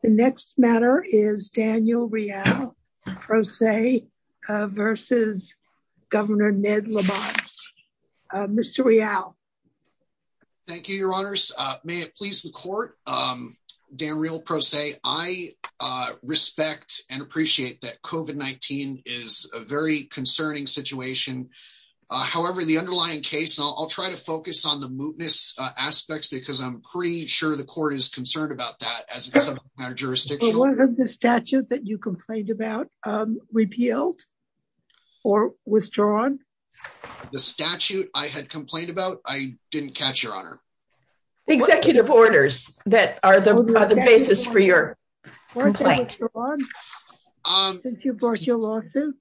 The next matter is Daniel Rial, Pro Se, versus Governor Ned Lamont. Mr. Rial. Thank you, your honors. May it please the court. Dan Rial, Pro Se, I respect and appreciate that COVID-19 is a very concerning situation. However, the underlying case, I'll try to focus on the What of the statute that you complained about, repealed or withdrawn? The statute I had complained about, I didn't catch, your honor. Executive orders that are the basis for your complaint. Since you brought your lawsuit?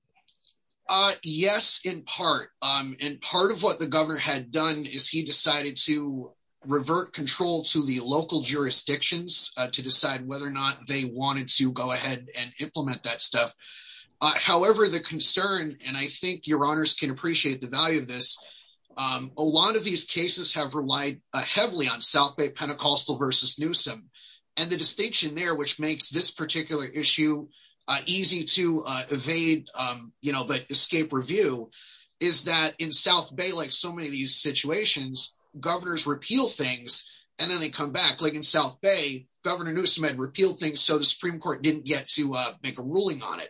Yes, in part. And part of what the governor had done is he decided to revert control to the local jurisdictions to decide whether or not they wanted to go ahead and implement that stuff. However, the concern, and I think your honors can appreciate the value of this, a lot of these cases have relied heavily on South Bay Pentecostal versus Newsom. And the distinction there, which makes this particular issue easy to evade, but escape review, is that in South Bay, like so many of these situations, governors repeal things, and then they come back. Like in South Bay, Governor Newsom had repealed things, so the Supreme Court didn't get to make a ruling on it.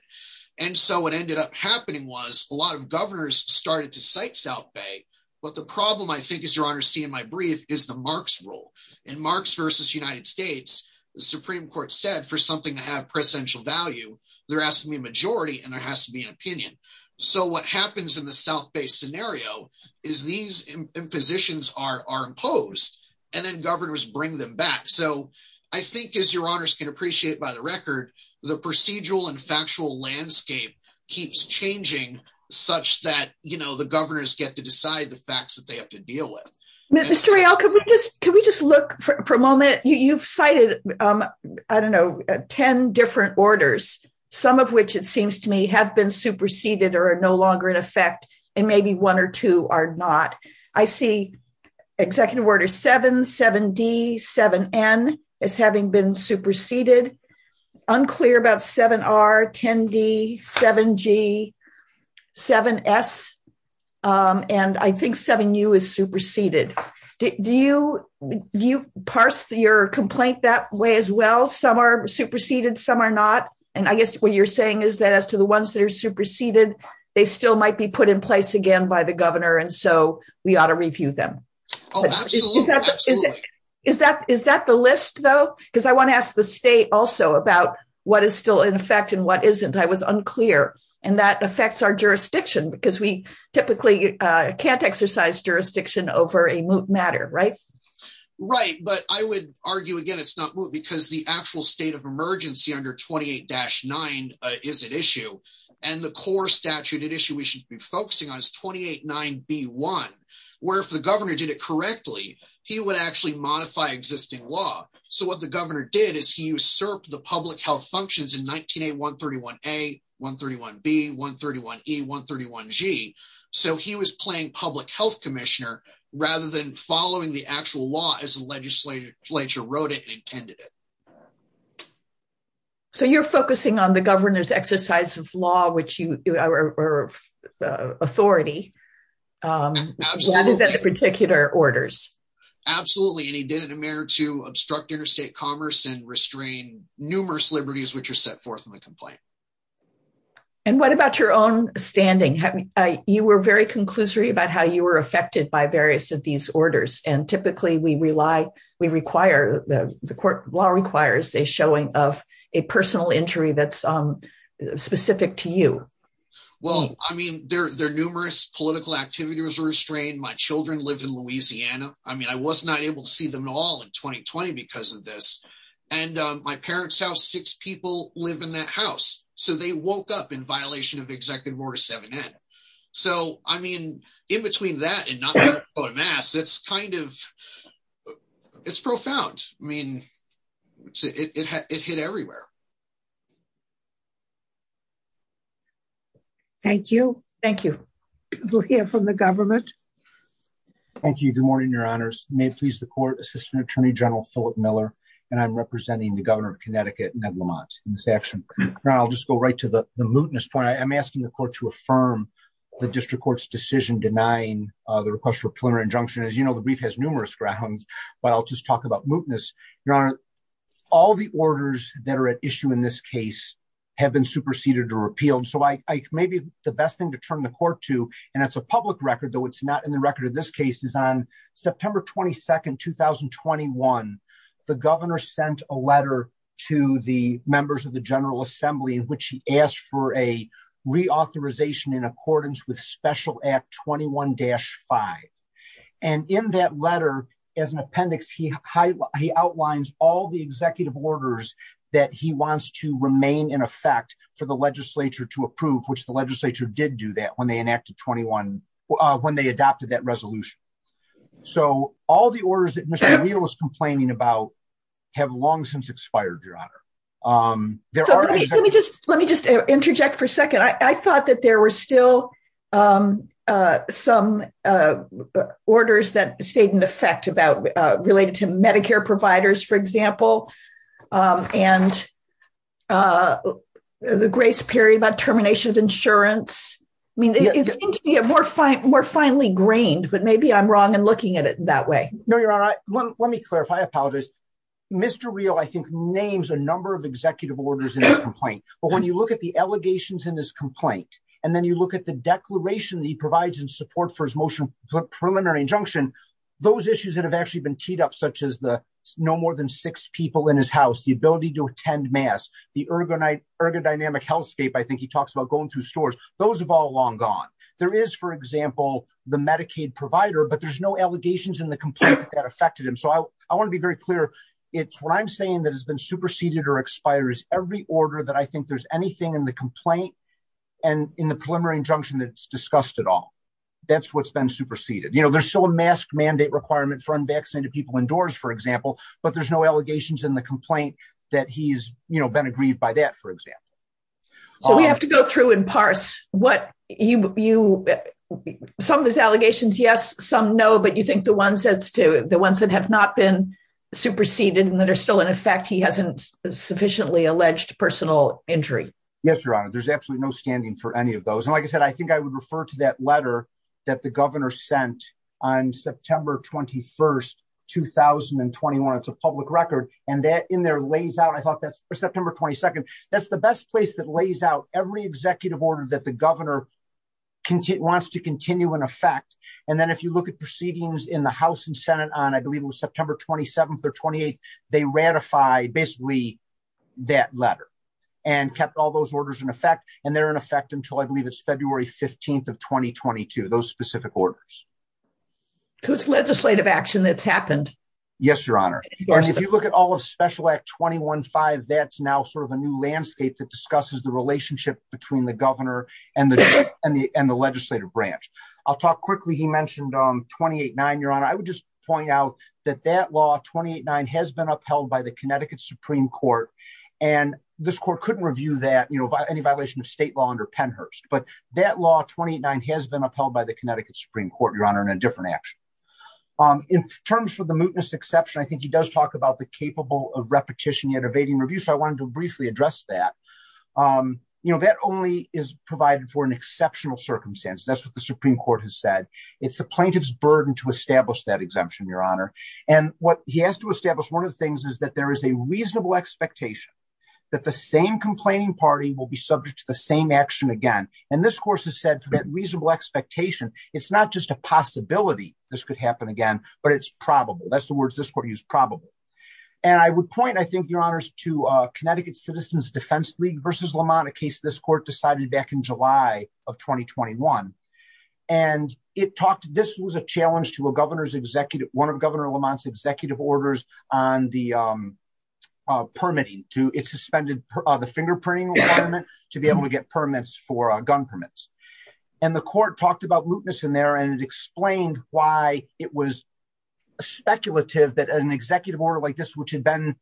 And so what ended up happening was a lot of governors started to cite South Bay. But the problem I think, as your honors see in my brief, is the Marx rule. In Marx versus United States, the Supreme Court said for something to have presidential value, there has to be a majority and there has to be an opinion. So what happens in the South Bay scenario is these impositions are imposed, and then governors bring them back. So I think, as your honors can appreciate by the record, the procedural and factual landscape keeps changing such that the governors get to decide the facts that they have to deal with. Mr. Real, can we just look for a moment? You've cited, I don't know, 10 different orders, some of which it seems to me have been superseded or are no longer in effect, and maybe one or two are not. I see Executive Order 7, 7D, 7N as having been superseded. Unclear about 7R, 10D, 7G, 7S, and I think 7U is superseded. Do you parse your complaint that way as well? Some are superseded, some are not. And I guess what you're saying is that as to the ones that are superseded, they still might be put in place again by the governor, and so we ought to review them. Oh, absolutely. Absolutely. Is that the list though? Because I want to ask the state also about what is still in effect and what isn't. I was unclear. And that affects our jurisdiction because we typically can't exercise jurisdiction over a moot matter, right? Right, but I would argue again it's not moot because the actual state of emergency under 28-9 is at issue. And the core statute at issue we should be focusing on is 28-9B1, where if the governor did it correctly, he would actually modify existing law. So what the governor did is he usurped the public health functions in 19A, 131A, 131B, 131E, 131G. So he was playing public health commissioner rather than following the actual law as the legislature wrote it and intended it. So you're focusing on the governor's exercise of law or authority rather than the particular orders. Absolutely. And he did it in a manner to obstruct interstate commerce and restrain numerous liberties which are set forth in the complaint. And what about your own standing? You were very conclusory about how you were affected by various of these orders. And typically we require, the court law requires a showing of a personal injury that's specific to you. Well, I mean, there are numerous political activities restrained. My was not able to see them at all in 2020 because of this. And my parents' house, six people live in that house. So they woke up in violation of Executive Order 7N. So I mean, in between that and not wearing a mask, it's kind of, it's profound. I mean, it hit everywhere. Thank you. Thank you. We'll hear from the government. Thank you. Good morning, Your Honors. May it please the court, Assistant Attorney General Philip Miller, and I'm representing the governor of Connecticut, Ned Lamont, in this action. Now I'll just go right to the mootness point. I'm asking the court to affirm the district court's decision denying the request for a preliminary injunction. As you know, the brief has numerous grounds, but I'll just talk about mootness. Your Honor, all the orders that are at issue in this case have been superseded or repealed. So maybe the best thing to turn the court to, and it's a public record, though it's not in the record of this case, is on September 22nd, 2021, the governor sent a letter to the members of the General Assembly in which he asked for a reauthorization in accordance with Special Act 21-5. And in that letter, as an appendix, he outlines all the executive orders that he wants to remain in effect for the legislature to approve, which the legislature did do that when they adopted that resolution. So all the orders that Mr. O'Neill was complaining about have long since expired, Your Honor. Let me just interject for a second. I thought that there were still some orders that stayed in effect related to Medicare providers, for example, and the grace period about termination of insurance. I mean, it's more finely grained, but maybe I'm wrong in looking at it that way. No, Your Honor. Let me clarify. I apologize. Mr. O'Neill, I think, names a number of executive orders in his complaint. But when you look at the allegations in his complaint, and then you look at the declaration that he provides in support for his motion for preliminary injunction, those issues that have actually been teed up, such as no more than six people in his house, the ability to attend mass, the ergodynamic healthscape, I think he talks about going through stores, those have all long gone. There is, for example, the Medicaid provider, but there's no allegations in the complaint that affected him. So I want to be very clear. It's what I'm saying that has been superseded or expires every order that I think there's anything in the complaint and in the preliminary injunction that's discussed at all. That's what's been superseded. You know, there's still a mask mandate requirement for unvaccinated people indoors, for example, but there's no allegations in the complaint that he's, you know, been aggrieved by that, for example. So we have to go through and parse what you some of his allegations. Yes, some know, but you think the ones that's to the ones that have not been superseded and that are still in effect, he hasn't sufficiently alleged personal injury. Yes, Your Honor, there's absolutely no standing for any of those. And like I said, I think I refer to that letter that the governor sent on September 21st, 2021. It's a public record. And that in there lays out, I thought that's September 22nd. That's the best place that lays out every executive order that the governor wants to continue in effect. And then if you look at proceedings in the House and Senate on, I believe it was September 27th or 28th, they ratified basically that letter and kept all those orders in effect. And they're in effect until I of 2022, those specific orders. So it's legislative action that's happened. Yes, Your Honor. If you look at all of special act 21 five, that's now sort of a new landscape that discusses the relationship between the governor and the and the and the legislative branch. I'll talk quickly. He mentioned 28 nine, Your Honor, I would just point out that that law 28 nine has been upheld by the Connecticut Supreme Court. And this court couldn't review that, any violation of state law under Pennhurst. But that law 29 has been upheld by the Connecticut Supreme Court, Your Honor, in a different action. In terms of the mootness exception, I think he does talk about the capable of repetition yet evading review. So I wanted to briefly address that. You know, that only is provided for an exceptional circumstance. That's what the Supreme Court has said. It's the plaintiff's burden to establish that exemption, Your Honor. And what he has to establish, one of the things is that there is a reasonable expectation that the same complaining party will be subject to the same action again. And this course has said that reasonable expectation, it's not just a possibility, this could happen again, but it's probable. That's the words this court use probable. And I would point I think your honors to Connecticut Citizens Defense League versus Lamont a case this court decided back in July of 2021. And it talked to this was a challenge to a governor's executive one of the permitting to it suspended the fingerprinting to be able to get permits for gun permits. And the court talked about mootness in there. And it explained why it was speculative that an executive order like this, which had been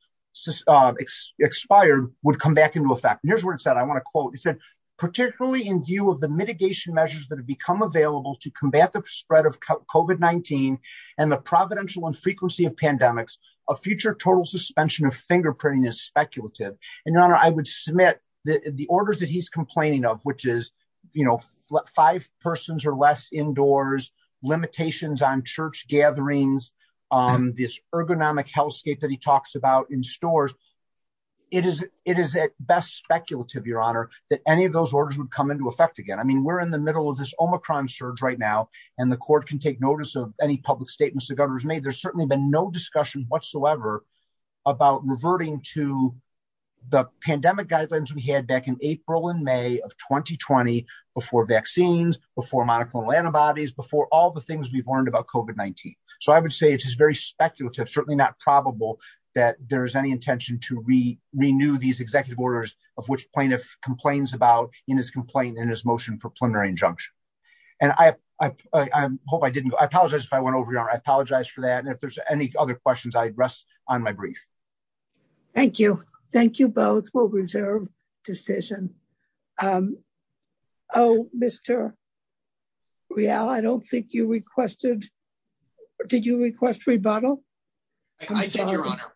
expired would come back into effect. And here's where it said, I want to quote, he said, particularly in view of the mitigation measures that have become available to combat the spread of COVID-19. And the providential and frequency of pandemics, a future total suspension of fingerprinting is speculative. And your honor, I would submit that the orders that he's complaining of, which is, you know, five persons or less indoors, limitations on church gatherings, on this ergonomic hellscape that he talks about in stores. It is it is at best speculative, your honor, that any of those orders would come into effect again. I mean, we're in the middle of this Omicron surge right now. And the court can take notice of any statements the governor's made, there's certainly been no discussion whatsoever about reverting to the pandemic guidelines we had back in April and May of 2020. Before vaccines before monoclonal antibodies before all the things we've learned about COVID-19. So I would say it's just very speculative, certainly not probable that there is any intention to re renew these executive orders of which plaintiff complains about in his complaint in his motion for I apologize for that. And if there's any other questions, I'd rest on my brief. Thank you. Thank you both will reserve decision. Oh, Mr. Real, I don't think you requested. Did you request rebuttal? I said, Your Honor,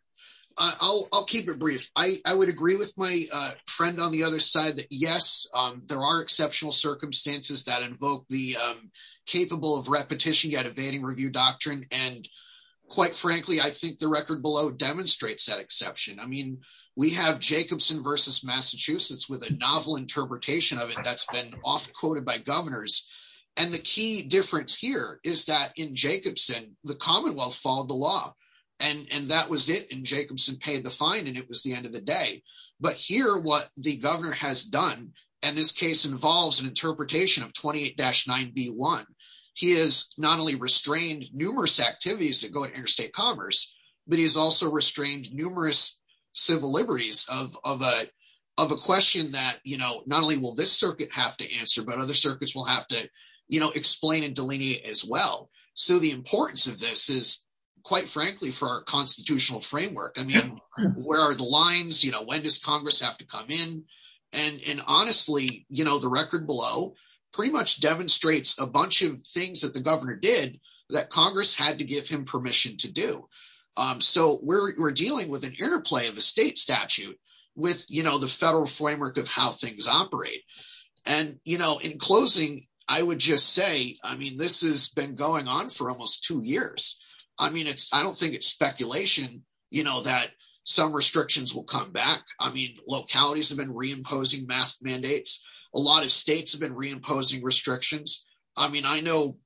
I'll keep it brief. I would agree with my friend on the other side that yes, there are exceptional circumstances that invoke the capable of repetition yet evading review doctrine. And quite frankly, I think the record below demonstrates that exception. I mean, we have Jacobson versus Massachusetts with a novel interpretation of it that's been often quoted by governors. And the key difference here is that in Jacobson, the Commonwealth followed the law. And that was it in Jacobson paid the fine and it was the end of the day. But here what the governor has done, and this case involves an interpretation of 28 dash 9b. One, he is not only restrained numerous activities that go to interstate commerce, but he's also restrained numerous civil liberties of a of a question that, you know, not only will this circuit have to answer, but other circuits will have to, you know, explain and delineate as well. So the importance of this is, quite frankly, for our constitutional framework. I mean, where are the lines? You know, when does Congress have to come in? And honestly, you know, the record below pretty much demonstrates a bunch of things that the governor did that Congress had to give him permission to do. So we're dealing with an interplay of a state statute with, you know, the federal framework of how things operate. And, you know, in closing, I would just say, I mean, this has been going on for almost two years. I mean, it's I don't think it's speculation, you know, that some restrictions will come back. I mean, localities have been reimposing mask mandates. A lot of states have been reimposing restrictions. I mean, I know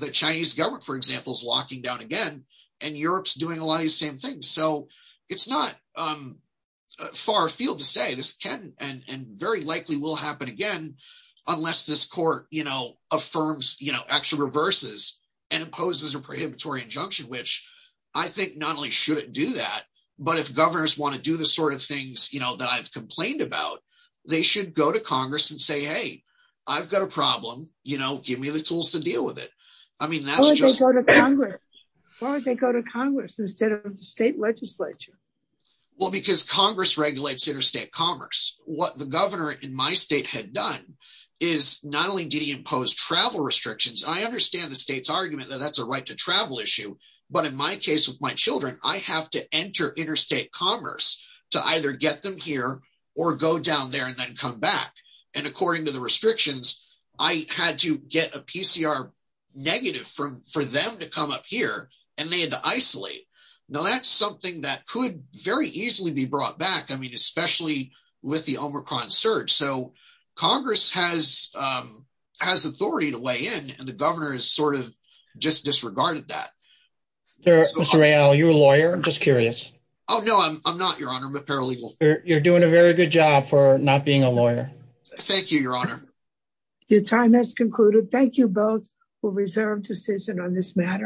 the Chinese government, for example, is locking down again, and Europe's doing a lot of the same things. So it's not far afield to say this can and very likely will happen again, unless this court, you know, affirms, you know, actually reverses and imposes a prohibitory injunction, which I think not only shouldn't do that, but if governors want to do the sort of things, you know, that I've complained about, they should go to Congress and say, hey, I've got a problem, you know, give me the tools to deal with it. I mean, that's why they go to Congress instead of the state legislature. Well, because Congress regulates interstate commerce, what the governor in my state had done is not only did he impose travel restrictions, I understand the state's argument that that's a right to travel issue. But in my case, with my children, I have to enter interstate commerce to either get them here, or go down there and then come back. And according to the restrictions, I had to get a PCR negative from for them to come up here, and they had to isolate. Now that's something that could very easily be brought back. I mean, especially with the Omicron surge. So that's part of that. Mr. Rayel, are you a lawyer? I'm just curious. Oh, no, I'm not, Your Honor. I'm a paralegal. You're doing a very good job for not being a lawyer. Thank you, Your Honor. Your time has concluded. Thank you both for reserved decision on this matter.